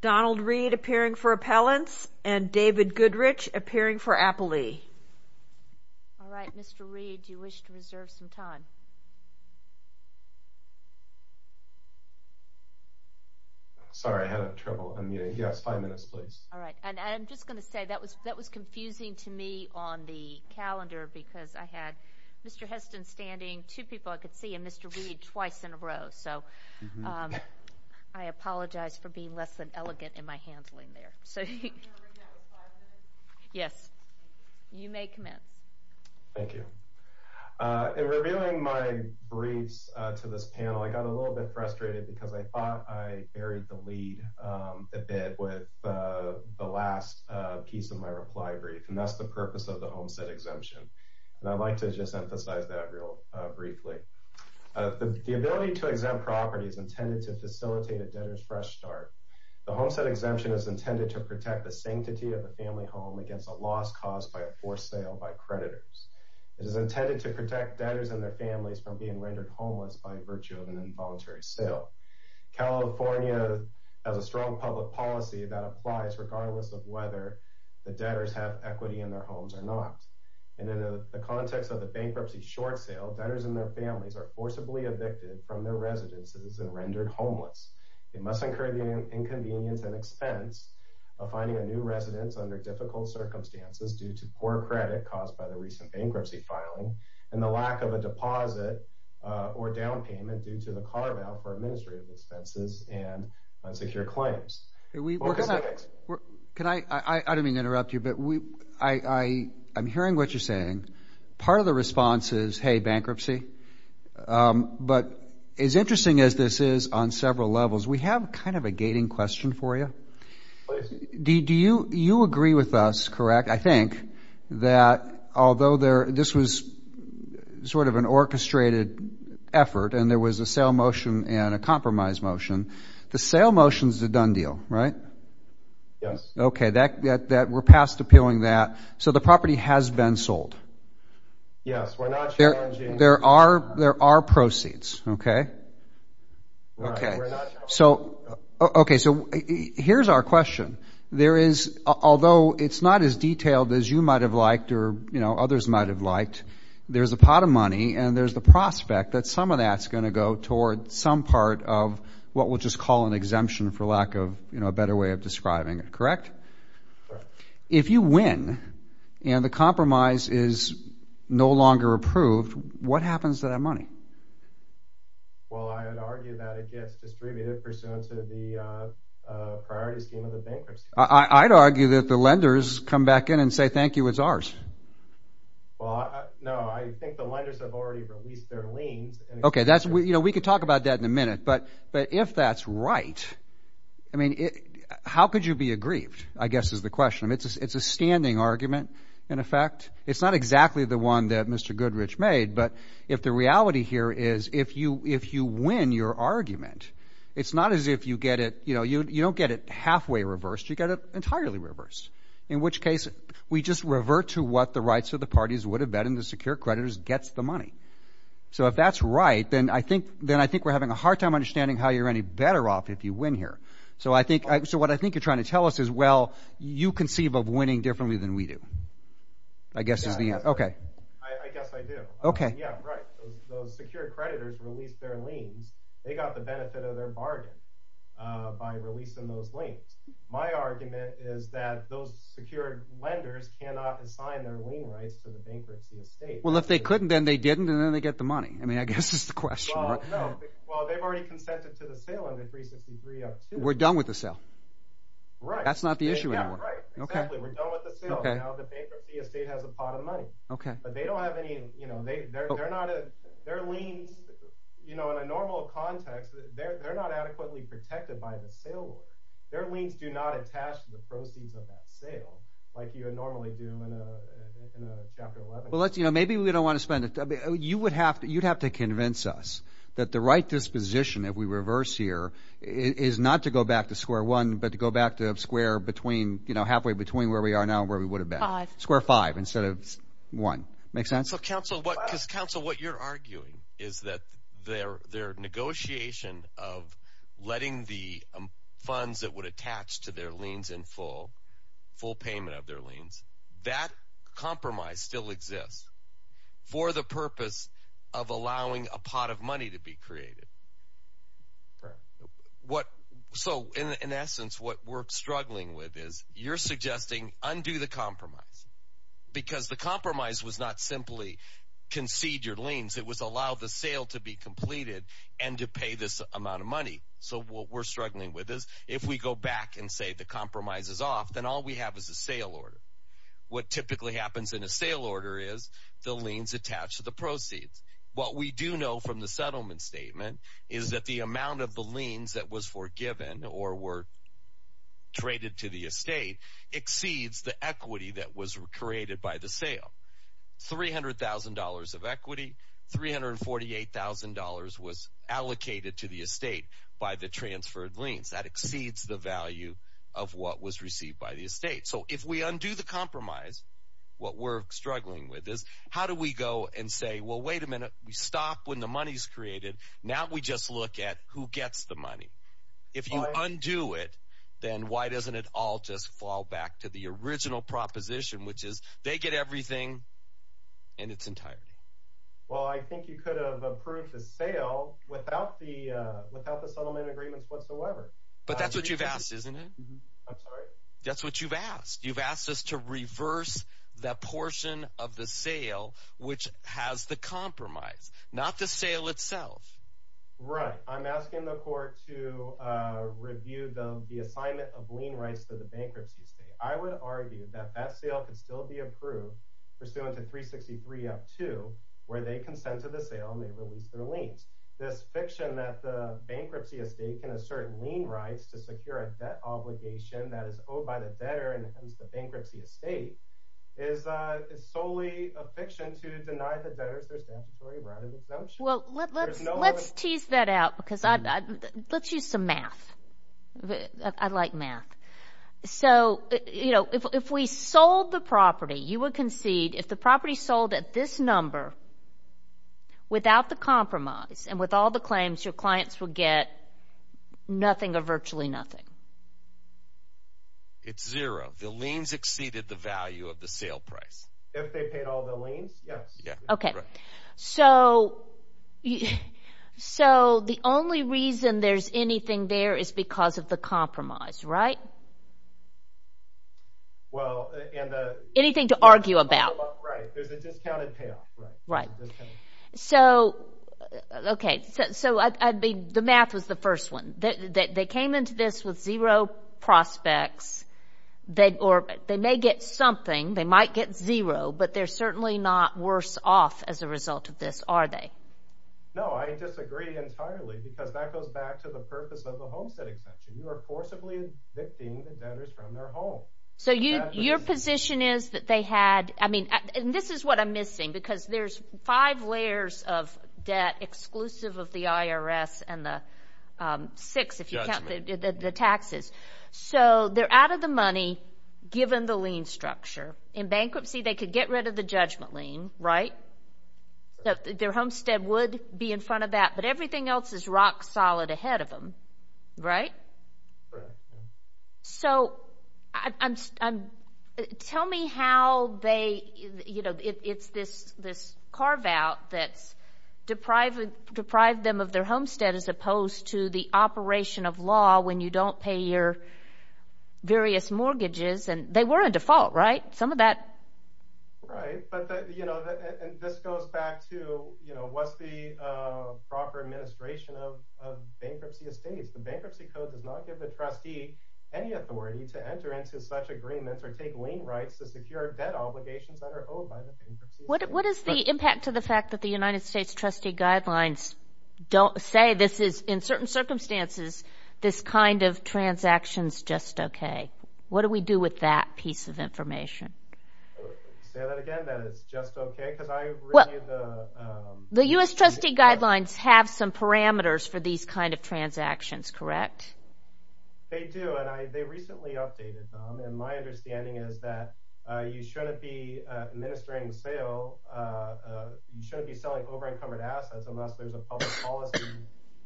Donald Reed appearing for appellants, and David Goodrich appearing for Appalee. All right, Mr. Reed, do you wish to reserve some time? Sorry, I had trouble. Yes, five minutes, please. All right, and I'm just going to say that was confusing to me on the calendar because I had Mr. Heston standing two people in front of me, and two people I could see, and Mr. Reed twice in a row. So I apologize for being less than elegant in my handling there. Yes, you may come in. Thank you. In revealing my briefs to this panel, I got a little bit frustrated because I thought I buried the lead a bit with the last piece of my reply brief, and that's the purpose of the Homestead Exemption. And I'd like to just emphasize that real briefly. The ability to exempt property is intended to facilitate a debtor's fresh start. The Homestead Exemption is intended to protect the sanctity of the family home against a loss caused by a forced sale by creditors. It is intended to protect debtors and their families from being rendered homeless by virtue of an involuntary sale. California has a strong public policy that applies regardless of whether the debtors have equity in their homes or not. And in the context of the bankruptcy short sale, debtors and their families are forcibly evicted from their residences and rendered homeless. They must incur the inconvenience and expense of finding a new residence under difficult circumstances due to poor credit caused by the recent bankruptcy filing and the lack of a deposit or down payment due to the carve-out for administrative expenses and unsecured claims. I don't mean to interrupt you, but I'm hearing what you're saying. Part of the response is, hey, bankruptcy. But as interesting as this is on several levels, we have kind of a gating question for you. Do you agree with us, correct, I think, that although this was sort of an orchestrated effort and there was a sale motion and a compromise motion, the sale motion is a done deal, right? Yes. Okay. We're past appealing that. So the property has been sold. Yes. We're not challenging. There are proceeds, okay? All right. We're not challenging. Okay. So here's our question. Although it's not as detailed as you might have liked or, you know, others might have liked, there's a pot of money and there's the prospect that some of that's going to go toward some part of what we'll just call an exemption for lack of, you know, a better way of describing it, correct? Correct. If you win and the compromise is no longer approved, what happens to that money? Well, I would argue that it gets distributed pursuant to the priority scheme of the bankers. I'd argue that the lenders come back in and say, thank you, it's ours. Well, no, I think the lenders have already released their liens. Okay. You know, we could talk about that in a minute. But if that's right, I mean, how could you be aggrieved, I guess is the question. I mean, it's a standing argument, in effect. It's not exactly the one that Mr. Goodrich made. But if the reality here is if you win your argument, it's not as if you get it, you know, you don't get it halfway reversed, you get it entirely reversed, in which case we just revert to what the rights of the parties would have been and the secure creditors gets the money. So if that's right, then I think we're having a hard time understanding how you're any better off if you win here. So what I think you're trying to tell us is, well, you conceive of winning differently than we do, I guess is the answer. I guess I do. Okay. Yeah, right. Those secure creditors released their liens. They got the benefit of their bargain by releasing those liens. My argument is that those secure lenders cannot assign their lien rights to the bankruptcy estate. Well, if they couldn't, then they didn't, and then they get the money. I mean, I guess that's the question, right? Well, no. Well, they've already consented to the sale under 363-2. We're done with the sale. Right. That's not the issue anymore. Yeah, right. Exactly. We're done with the sale. Now the bankruptcy estate has a pot of money. Okay. But they don't have any – they're not – their liens, you know, in a normal context, they're not adequately protected by the sale rule. Their liens do not attach to the proceeds of that sale like you normally do in a Chapter 11. Well, let's – you know, maybe we don't want to spend – you would have to convince us that the right disposition that we reverse here is not to go back to square one but to go back to square between – you know, halfway between where we are now and where we would have been. Five. Square five instead of one. Make sense? So, counsel, what – because, counsel, what you're arguing is that their negotiation of letting the funds that would attach to their liens in full, full payment of their liens, that compromise still exists for the purpose of allowing a pot of money to be created. Right. What – so, in essence, what we're struggling with is you're suggesting undo the compromise because the compromise was not simply concede your liens. It was allow the sale to be completed and to pay this amount of money. So what we're struggling with is if we go back and say the compromise is off, then all we have is a sale order. What typically happens in a sale order is the liens attach to the proceeds. What we do know from the settlement statement is that the amount of the liens that was forgiven or were traded to the estate exceeds the equity that was created by the sale. $300,000 of equity, $348,000 was allocated to the estate by the transferred liens. That exceeds the value of what was received by the estate. So if we undo the compromise, what we're struggling with is how do we go and say, well, wait a minute. We stop when the money is created. Now we just look at who gets the money. If you undo it, then why doesn't it all just fall back to the original proposition, which is they get everything and it's entirely. Well, I think you could have approved the sale without the settlement agreement whatsoever. But that's what you've asked, isn't it? I'm sorry? That's what you've asked. You've asked us to reverse the portion of the sale which has the compromise, not the sale itself. Right. I'm asking the court to review the assignment of lien rights to the bankruptcy estate. I would argue that that sale could still be approved pursuant to 363.2, where they consent to the sale and they release the liens. This fiction that the bankruptcy estate can assert lien rights to secure a debt obligation that is owed by the debtor in the case of the bankruptcy estate is solely a fiction to deny the debtors their statutory right of expulsion. Well, let's tease that out because let's use some math. I like math. So if we sold the property, you would concede if the property sold at this number without the compromise and with all the claims, your clients would get nothing or virtually nothing. It's zero. The liens exceeded the value of the sale price. If they paid all the liens, yes. Okay. Correct. So the only reason there's anything there is because of the compromise, right? Anything to argue about. Right. There's a discounted payoff. Right. Okay. So the math was the first one. They came into this with zero prospects. They may get something. They might get zero, but they're certainly not worse off as a result of this, are they? No, I disagree entirely because that goes back to the purpose of the homestead exemption. You are forcibly evicting the debtors from their home. So your position is that they had – and this is what I'm missing because there's five layers of debt exclusive of the IRS and the six, if you count the taxes. So they're out of the money given the lien structure. In bankruptcy, they could get rid of the judgment lien, right? Their homestead would be in front of that, but everything else is rock solid ahead of them, right? Right. So tell me how they – you know, it's this carve-out that's deprived them of their homestead as opposed to the operation of law when you don't pay your various mortgages, and they were on default, right? Some of that – Right, but, you know, this goes back to, you know, what's the proper administration of bankruptcy estates? The Bankruptcy Code does not give the trustee any authority to enter into such agreements or take lien rights to secure debt obligations that are owed by the bankruptcy estate. What is the impact to the fact that the United States trustee guidelines don't say this is – in certain circumstances, this kind of transaction's just okay? What do we do with that piece of information? Say that again, that it's just okay? Well, the U.S. trustee guidelines have some parameters for these kind of transactions, correct? They do, and they recently updated them, and my understanding is that you shouldn't be administering sales – you shouldn't be selling over-encumbered assets unless there's a public policy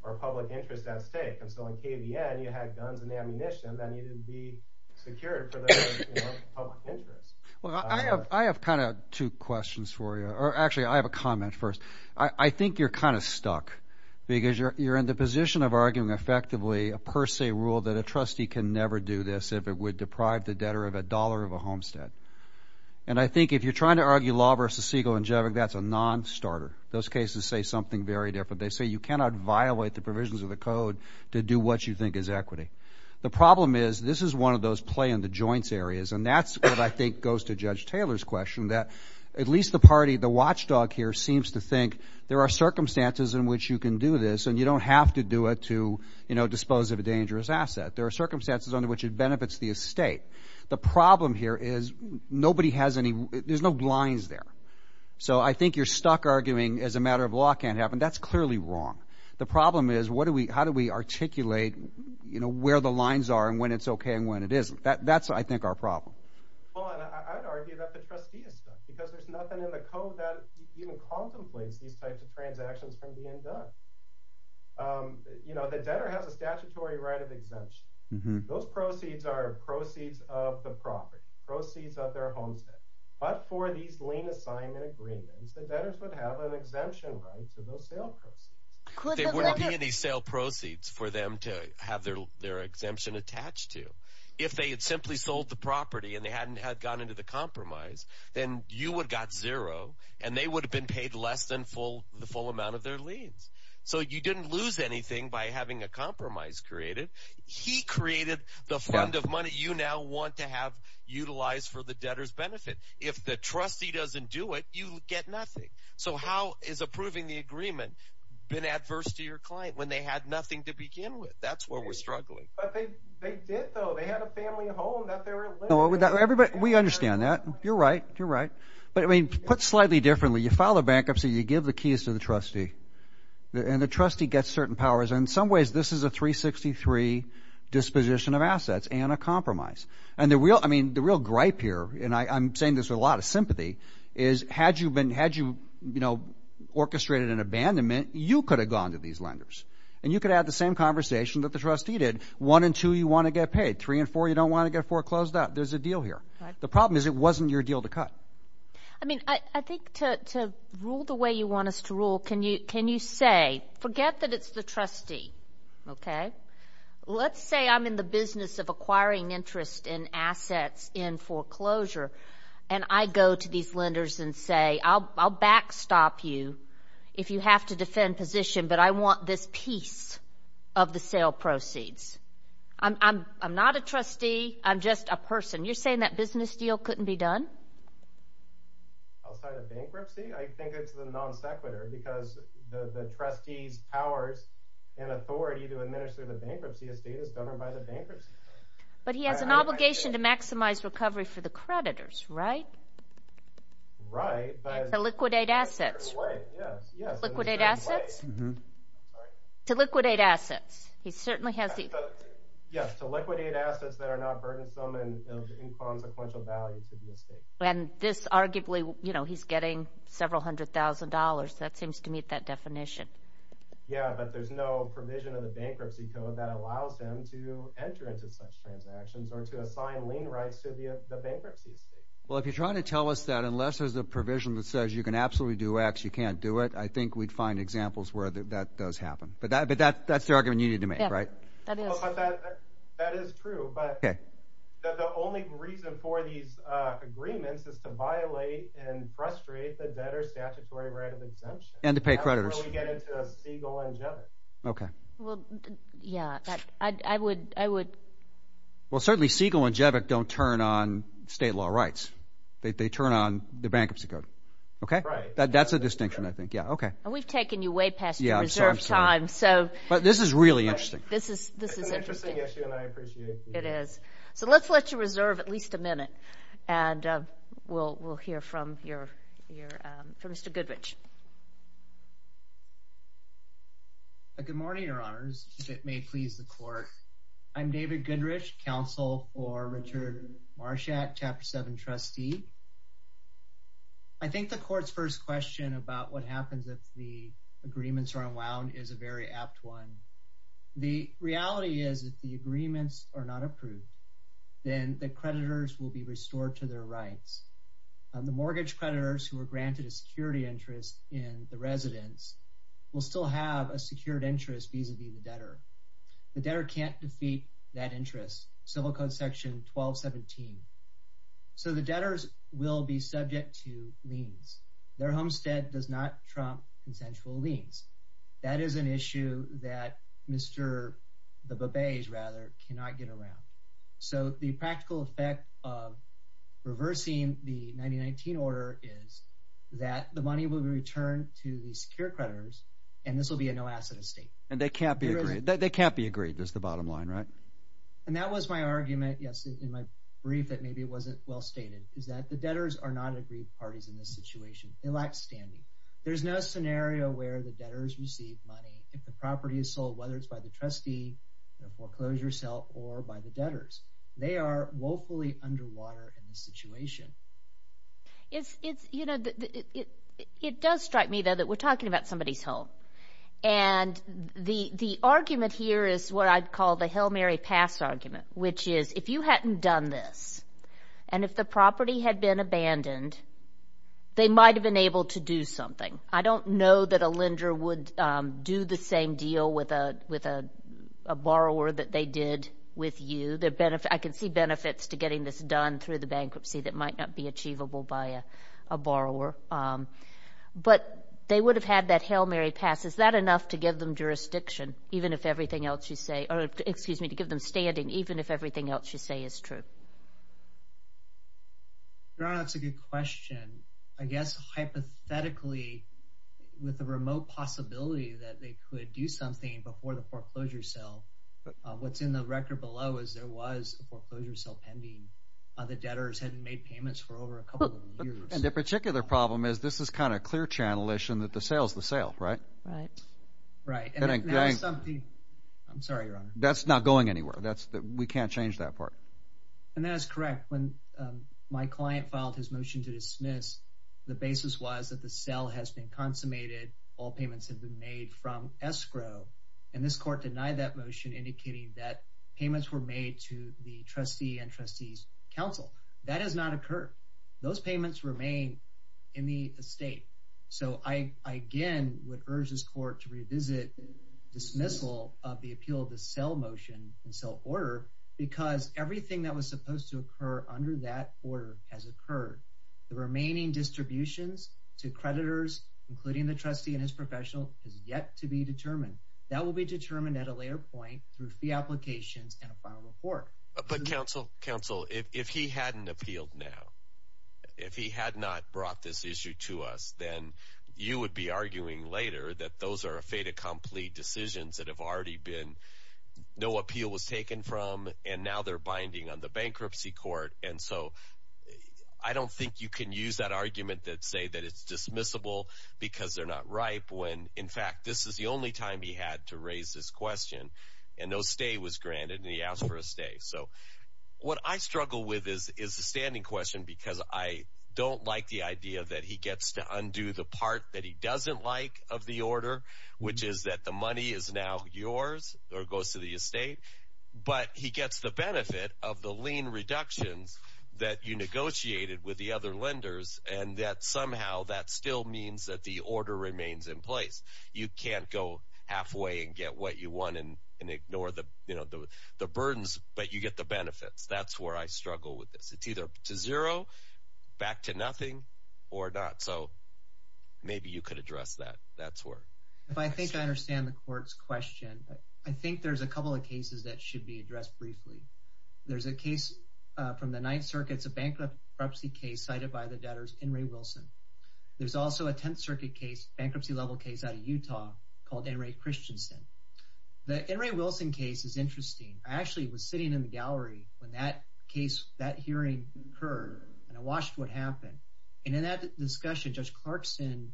or public interest at stake. And so in KVN, you had guns and ammunition that needed to be secured for the public interest. Well, I have kind of two questions for you – or actually, I have a comment first. I think you're kind of stuck because you're in the position of arguing effectively a per se rule that a trustee can never do this if it would deprive the debtor of a dollar of a homestead. And I think if you're trying to argue law versus legal and general, that's a non-starter. Those cases say something very different. They say you cannot violate the provisions of the code to do what you think is equity. The problem is this is one of those play in the joints areas, and that's what I think goes to Judge Taylor's question that at least the party, the watchdog here, seems to think there are circumstances in which you can do this, and you don't have to do it to dispose of a dangerous asset. There are circumstances under which it benefits the estate. The problem here is nobody has any – there's no blinds there. So I think you're stuck arguing as a matter of law can't happen. That's clearly wrong. The problem is how do we articulate where the lines are and when it's okay and when it isn't. That's, I think, our problem. Well, and I'd argue that the trustee is stuck because there's nothing in the code that even contemplates these types of transactions from being done. The debtor has a statutory right of exemption. Those proceeds are proceeds of the property, proceeds of their homestead. But for these lien assignment agreements, the debtors would have an exemption right to those sale proceeds. There wouldn't be any sale proceeds for them to have their exemption attached to. If they had simply sold the property and they hadn't had gone into the compromise, then you would have got zero, and they would have been paid less than the full amount of their liens. So you didn't lose anything by having a compromise created. He created the fund of money you now want to have utilized for the debtor's benefit. If the trustee doesn't do it, you get nothing. So how is approving the agreement been adverse to your client when they had nothing to begin with? That's where we're struggling. But they did, though. They had a family home that they were living in. We understand that. You're right. You're right. But, I mean, put slightly differently, you file a bankruptcy, you give the keys to the trustee, and the trustee gets certain powers. In some ways, this is a 363 disposition of assets and a compromise. And the real gripe here, and I'm saying this with a lot of sympathy, is had you orchestrated an abandonment, you could have gone to these lenders, and you could have had the same conversation that the trustee did. One and two, you want to get paid. Three and four, you don't want to get four closed out. There's a deal here. The problem is it wasn't your deal to cut. I mean, I think to rule the way you want us to rule, can you say, forget that it's the trustee, okay? Let's say I'm in the business of acquiring interest in assets in foreclosure, and I go to these lenders and say, I'll backstop you if you have to defend position, but I want this piece of the sale proceeds. I'm not a trustee. I'm just a person. You're saying that business deal couldn't be done? Outside of bankruptcy? Bankruptcy, I think it's the non sequitur, because the trustee's powers and authority to administer the bankruptcy estate is governed by the bankruptcy. But he has an obligation to maximize recovery for the creditors, right? Right. To liquidate assets. Yes. Liquidate assets? Mm-hmm. To liquidate assets. He certainly has the- Yes, to liquidate assets that are not burdensome and of inconsequential value to the estate. And this arguably, you know, he's getting several hundred thousand dollars. That seems to meet that definition. Yeah, but there's no provision in the bankruptcy code that allows him to enter into such transactions or to assign lien rights to the bankruptcy estate. Well, if you're trying to tell us that, unless there's a provision that says you can absolutely do X, you can't do it, I think we'd find examples where that does happen. But that's the argument you need to make, right? Yeah, that is. That is true. But the only reason for these agreements is to violate and frustrate the debtor's statutory right of exemption. And to pay creditors. That's where we get into Siegel and Jevick. Okay. Well, yeah, I would- Well, certainly Siegel and Jevick don't turn on state law rights. They turn on the bankruptcy code. Right. That's a distinction, I think. Yeah, okay. And we've taken you way past your reserve time, so- But this is really interesting. This is interesting. It is. So let's let you reserve at least a minute, and we'll hear from Mr. Goodrich. Good morning, Your Honors, if it may please the court. I'm David Goodrich, counsel for Richard Marshat, Chapter 7 trustee. I think the court's first question about what happens if the agreements are unwound is a very apt one. The reality is if the agreements are not approved, then the creditors will be restored to their rights. The mortgage creditors who were granted a security interest in the residence will still have a secured interest vis-a-vis the debtor. The debtor can't defeat that interest, Civil Code Section 1217. So the debtors will be subject to liens. Their homestead does not trump consensual liens. That is an issue that Mr. Babbage, rather, cannot get around. So the practical effect of reversing the 1919 order is that the money will return to the secure creditors, and this will be a no-asset estate. And they can't be agreed. They can't be agreed is the bottom line, right? And that was my argument, yes, in my brief, that maybe it wasn't well stated, is that the debtors are not agreed parties in this situation. They lack standing. There's no scenario where the debtors receive money if the property is sold, whether it's by the trustee, the foreclosure cell, or by the debtors. They are woefully underwater in this situation. It does strike me, though, that we're talking about somebody's home. And the argument here is what I'd call the Hail Mary Pass argument, which is if you hadn't done this, and if the property had been abandoned, they might have been able to do something. I don't know that a lender would do the same deal with a borrower that they did with you. I can see benefits to getting this done through the bankruptcy that might not be achievable by a borrower. But they would have had that Hail Mary Pass. Is that enough to give them jurisdiction, even if everything else you say or, excuse me, to give them standing, even if everything else you say is true? Your Honor, that's a good question. I guess hypothetically, with the remote possibility that they could do something before the foreclosure cell, what's in the record below is there was a foreclosure cell pending. The debtors hadn't made payments for over a couple of years. And the particular problem is this is kind of clear channel-ish in that the sale is the sale, right? Right. I'm sorry, Your Honor. That's not going anywhere. We can't change that part. And that is correct. When my client filed his motion to dismiss, the basis was that the cell has been consummated. All payments have been made from escrow. And this court denied that motion, indicating that payments were made to the trustee and trustees' counsel. That has not occurred. Those payments remain in the estate. So I, again, would urge this court to revisit dismissal of the appeal to sell motion and sell order, because everything that was supposed to occur under that order has occurred. The remaining distributions to creditors, including the trustee and his professional, is yet to be determined. That will be determined at a later point through fee applications and a final report. But, counsel, if he hadn't appealed now, if he had not brought this issue to us, then you would be arguing later that those are a fait accompli decisions that have already been no appeal was taken from and now they're binding on the bankruptcy court. And so I don't think you can use that argument that say that it's dismissible because they're not ripe, when, in fact, this is the only time he had to raise this question and no stay was granted and he asked for a stay. So what I struggle with is the standing question because I don't like the idea that he gets to undo the part that he doesn't like of the order, which is that the money is now yours or goes to the estate, but he gets the benefit of the lien reductions that you negotiated with the other lenders and that somehow that still means that the order remains in place. You can't go halfway and get what you want and ignore the burdens, but you get the benefits. That's where I struggle with this. It's either to zero, back to nothing, or not. So maybe you could address that. If I think I understand the court's question, I think there's a couple of cases that should be addressed briefly. There's a case from the Ninth Circuit. It's a bankruptcy case cited by the debtors, Enri Wilson. There's also a Tenth Circuit case, bankruptcy-level case out of Utah called Enri Christensen. The Enri Wilson case is interesting. I actually was sitting in the gallery when that hearing occurred and I watched what happened. And in that discussion, Judge Clarkson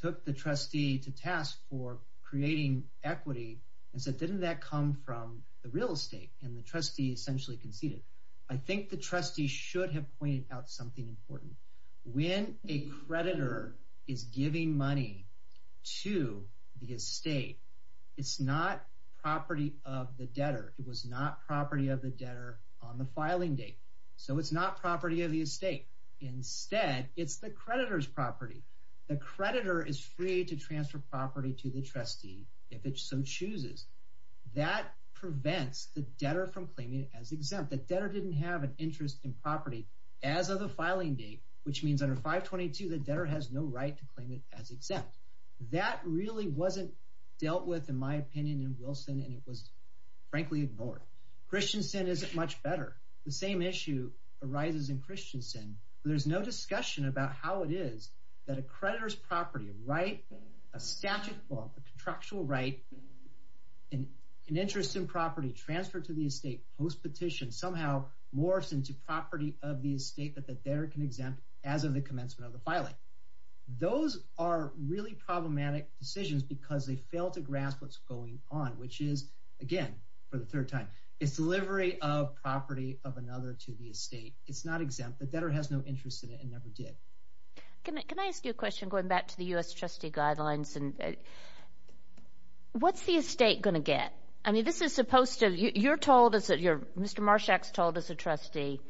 took the trustee to task for creating equity and said, didn't that come from the real estate? And the trustee essentially conceded. I think the trustee should have pointed out something important. When a creditor is giving money to the estate, it's not property of the debtor. It was not property of the debtor on the filing date. So it's not property of the estate. Instead, it's the creditor's property. The creditor is free to transfer property to the trustee if it so chooses. That prevents the debtor from claiming it as exempt. The debtor didn't have an interest in property as of the filing date, which means under 522, the debtor has no right to claim it as exempt. That really wasn't dealt with, in my opinion, in Wilson, and it was frankly ignored. Christensen is much better. The same issue arises in Christensen. There's no discussion about how it is that a creditor's property, a right, a statute, a contractual right, an interest in property transferred to the estate post-petition somehow morphs into property of the estate that the debtor can exempt as of the commencement of the filing. Those are really problematic decisions because they fail to grasp what's going on, which is, again, for the third time, it's delivery of property of another to the estate. It's not exempt. The debtor has no interest in it and never did. Can I ask you a question going back to the U.S. trustee guidelines? What's the estate going to get? You're told, Mr. Marshak's told as a trustee,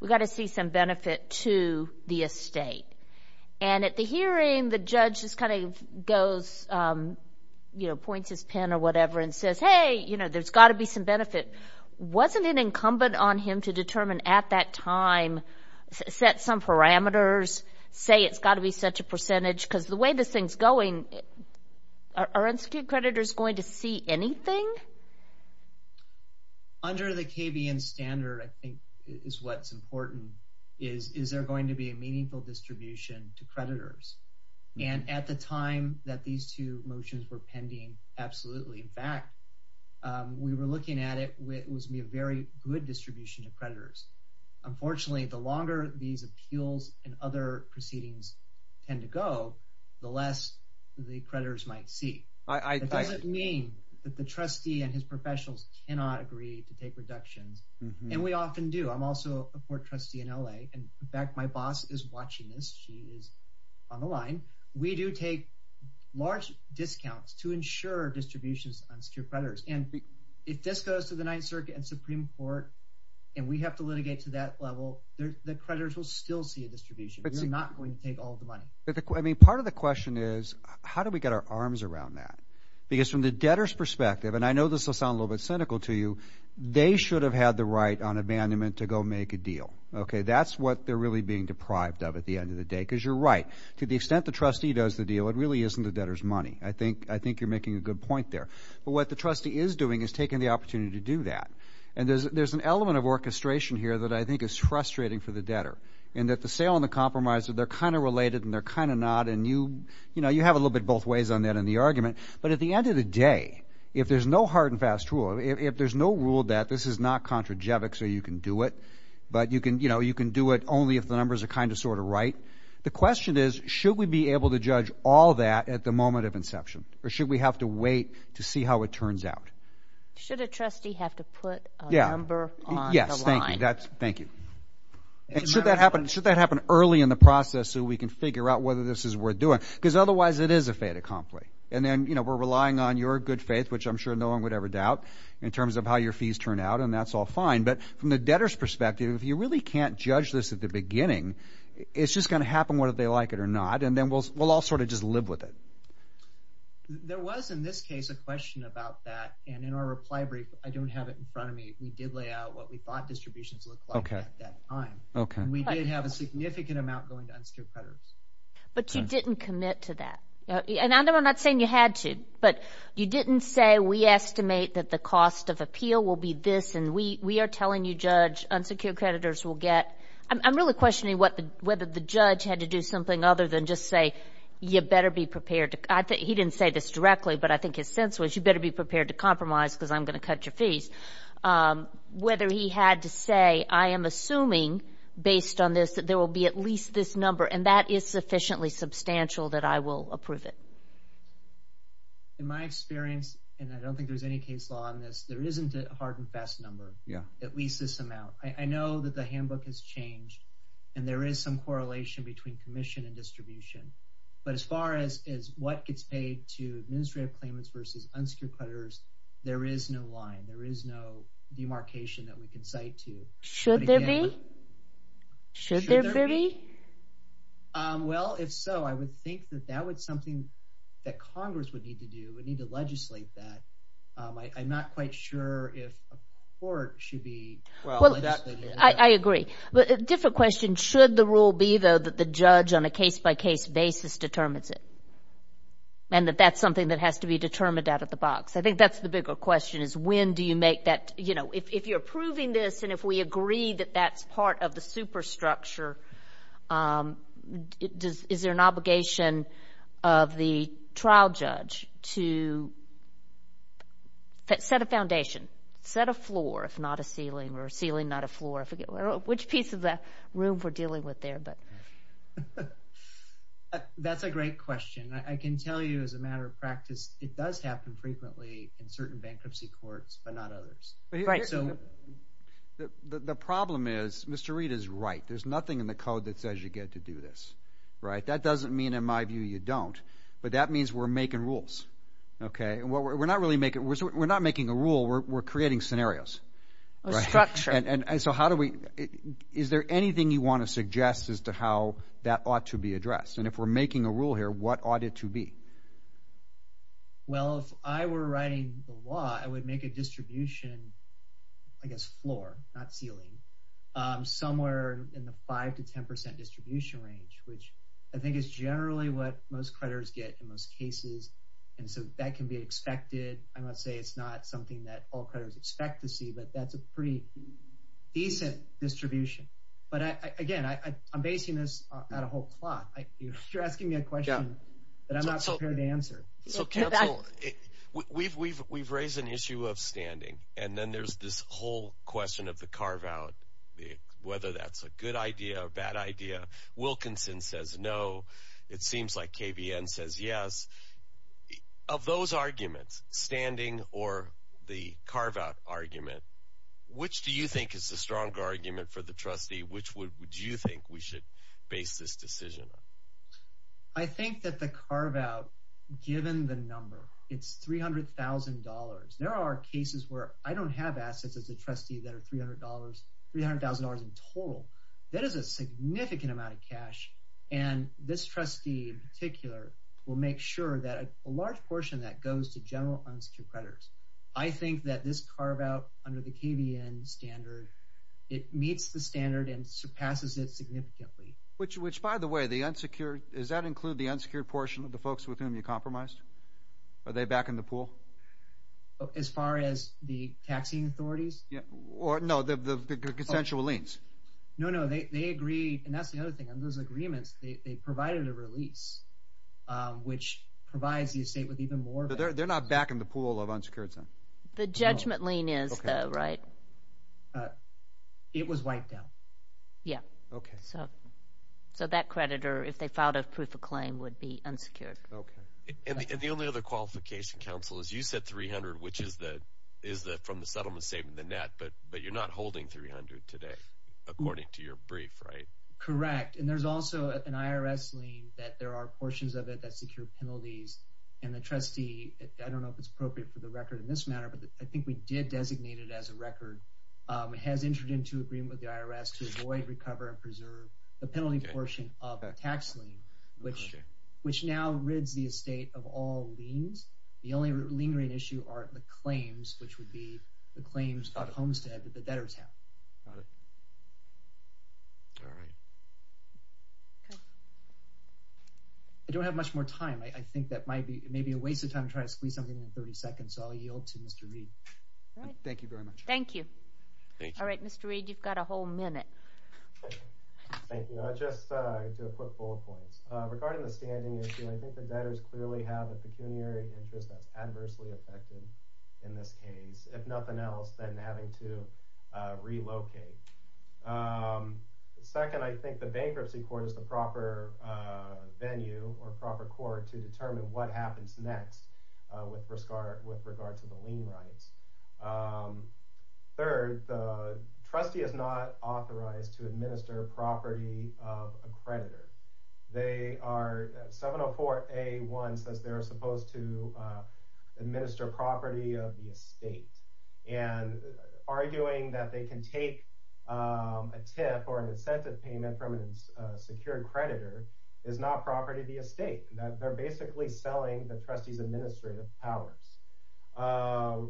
we've got to see some benefit to the estate. And at the hearing, the judge just kind of goes, points his pen or whatever and says, hey, there's got to be some benefit. Wasn't it incumbent on him to determine at that time, set some parameters, say it's got to be such a percentage? Because the way this thing's going, are institute creditors going to see anything? Under the KBN standard, I think is what's important, is there going to be a meaningful distribution to creditors? And at the time that these two motions were pending, absolutely. In fact, we were looking at it, it was going to be a very good distribution to creditors. Unfortunately, the longer these appeals and other proceedings tend to go, the less the creditors might see. It doesn't mean that the trustee and his professionals cannot agree to take reductions. And we often do. I'm also a court trustee in LA. In fact, my boss is watching this. She is on the line. We do take large discounts to ensure distributions to creditors. And if this goes to the Ninth Circuit and Supreme Court, and we have to litigate to that level, the creditors will still see a distribution. We're not going to take all the money. Part of the question is how do we get our arms around that? Because from the debtor's perspective, and I know this will sound a little bit cynical to you, they should have had the right on abandonment to go make a deal. That's what they're really being deprived of at the end of the day, because you're right. To the extent the trustee does the deal, it really isn't the debtor's money. I think you're making a good point there. But what the trustee is doing is taking the opportunity to do that. And there's an element of orchestration here that I think is frustrating for the debtor, in that the sale and the compromise, they're kind of related and they're kind of not, and you have a little bit both ways on that in the argument. But at the end of the day, if there's no hard and fast rule, if there's no rule that this is not contrajevic so you can do it, but you can do it only if the numbers are kind of sort of right, the question is, should we be able to judge all that at the moment of inception? Or should we have to wait to see how it turns out? Should a trustee have to put a number on the line? Yes, thank you. And should that happen early in the process so we can figure out whether this is worth doing? Because otherwise it is a fait accompli. And then, you know, we're relying on your good faith, which I'm sure no one would ever doubt, in terms of how your fees turn out, and that's all fine. But from the debtor's perspective, if you really can't judge this at the beginning, it's just going to happen whether they like it or not. And then we'll all sort of just live with it. There was, in this case, a question about that. And in our reply brief, I don't have it in front of me, we did lay out what we thought distributions looked like at that time. And we did have a significant amount going to unsecured creditors. But you didn't commit to that. And I'm not saying you had to, but you didn't say we estimate that the cost of appeal will be this and we are telling you, Judge, unsecured creditors will get. I'm really questioning whether the judge had to do something other than just say, you better be prepared. He didn't say this directly, but I think his sense was, you better be prepared to compromise because I'm going to cut your fees. Whether he had to say, I am assuming, based on this, that there will be at least this number, and that is sufficiently substantial that I will approve it. In my experience, and I don't think there's any case law on this, there isn't a hard and fast number, at least this amount. I know that the handbook has changed, and there is some correlation between commission and distribution. But as far as what gets paid to administrative claimants versus unsecured creditors, there is no line. There is no demarcation that we can cite to. Should there be? Should there be? Well, if so, I would think that that was something that Congress would need to do, would need to legislate that. I'm not quite sure if a court should be legislating that. I agree. A different question, should the rule be, though, that the judge on a case-by-case basis determines it, and that that's something that has to be determined out of the box? I think that's the bigger question, is when do you make that? If you're approving this, and if we agree that that's part of the superstructure, is there an obligation of the trial judge to set a foundation, set a floor if not a ceiling, or a ceiling not a floor? Which piece of the room we're dealing with there? That's a great question. I can tell you as a matter of practice, it does happen frequently in certain bankruptcy courts but not others. The problem is Mr. Reed is right. There's nothing in the code that says you get to do this. That doesn't mean, in my view, you don't, but that means we're making rules. We're not making a rule. We're creating scenarios. Structure. Is there anything you want to suggest as to how that ought to be addressed? And if we're making a rule here, what ought it to be? Well, if I were writing the law, I would make a distribution, I guess floor, not ceiling, somewhere in the 5% to 10% distribution range, which I think is generally what most creditors get in most cases, and so that can be expected. I'm not saying it's not something that all creditors expect to see, but that's a pretty decent distribution. But, again, I'm basing this on a whole plot. You're asking me a question that I'm not prepared to answer. So, counsel, we've raised an issue of standing, and then there's this whole question of the carve-out, whether that's a good idea or a bad idea. Wilkinson says no. It seems like KVN says yes. Of those arguments, standing or the carve-out argument, which do you think is the stronger argument for the trustee? Which would you think we should base this decision on? I think that the carve-out, given the number, it's $300,000. There are cases where I don't have assets as a trustee that are $300,000 in total. That is a significant amount of cash, and this trustee in particular will make sure that a large portion of that goes to general unsecured creditors. I think that this carve-out under the KVN standard, it meets the standard and surpasses it significantly. Which, by the way, the unsecured, does that include the unsecured portion of the folks with whom you compromised? Are they back in the pool? As far as the taxing authorities? No, the consensual liens. No, no, they agree, and that's the other thing. Those agreements, they provided a release, which provides the estate with even more benefits. They're not back in the pool of unsecured. The judgment lien is, though, right? It was wiped out. Yeah. Okay. So that creditor, if they filed a proof of claim, would be unsecured. And the only other qualification, Counsel, is you said 300, which is from the settlement statement, the net, but you're not holding 300 today, according to your brief, right? Correct. And there's also an IRS lien that there are portions of it that secure penalties, and the trustee, I don't know if it's appropriate for the record in this matter, but I think we did designate it as a record. It has entered into agreement with the IRS to avoid, recover, and preserve the penalty portion of a tax lien, which now rids the estate of all liens. The only lingering issue are the claims, which would be the claims of Homestead that the debtors have. All right. All right. I don't have much more time. I think that might be, it may be a waste of time to try to squeeze something in 30 seconds, so I'll yield to Mr. Reed. Thank you very much. Thank you. All right, Mr. Reed, you've got a whole minute. Thank you. I'll just do a quick bullet point. Regarding the standing issue, I think the debtors clearly have a pecuniary interest that's adversely affected in this case, if nothing else, then having to relocate. Second, I think the bankruptcy court is the proper venue or proper court to determine what happens next with regard to the lien rights. Third, the trustee is not authorized to administer property of a creditor. They are, 704A1 says they're supposed to administer property of the estate and arguing that they can take a tip or an incentive payment from a secured creditor is not property of the estate, that they're basically selling the trustee's administrative powers.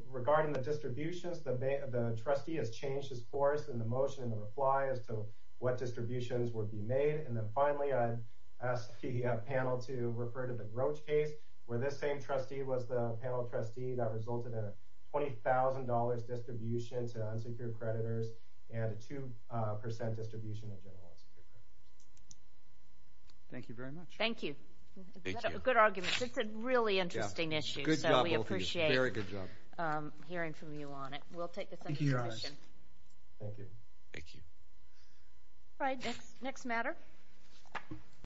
Regarding the distributions, the trustee has changed his course in the motion and the reply as to what distributions would be made. And then finally, I asked the panel to refer to the growth case where this same trustee was the panel trustee that resulted in a $20,000 distribution to unsecured creditors and a 2% distribution. Thank you very much. Thank you. Good arguments. It's a really interesting issue. So we appreciate hearing from you on it. We'll take the summary questions. Thank you. Thank you. All right, next matter.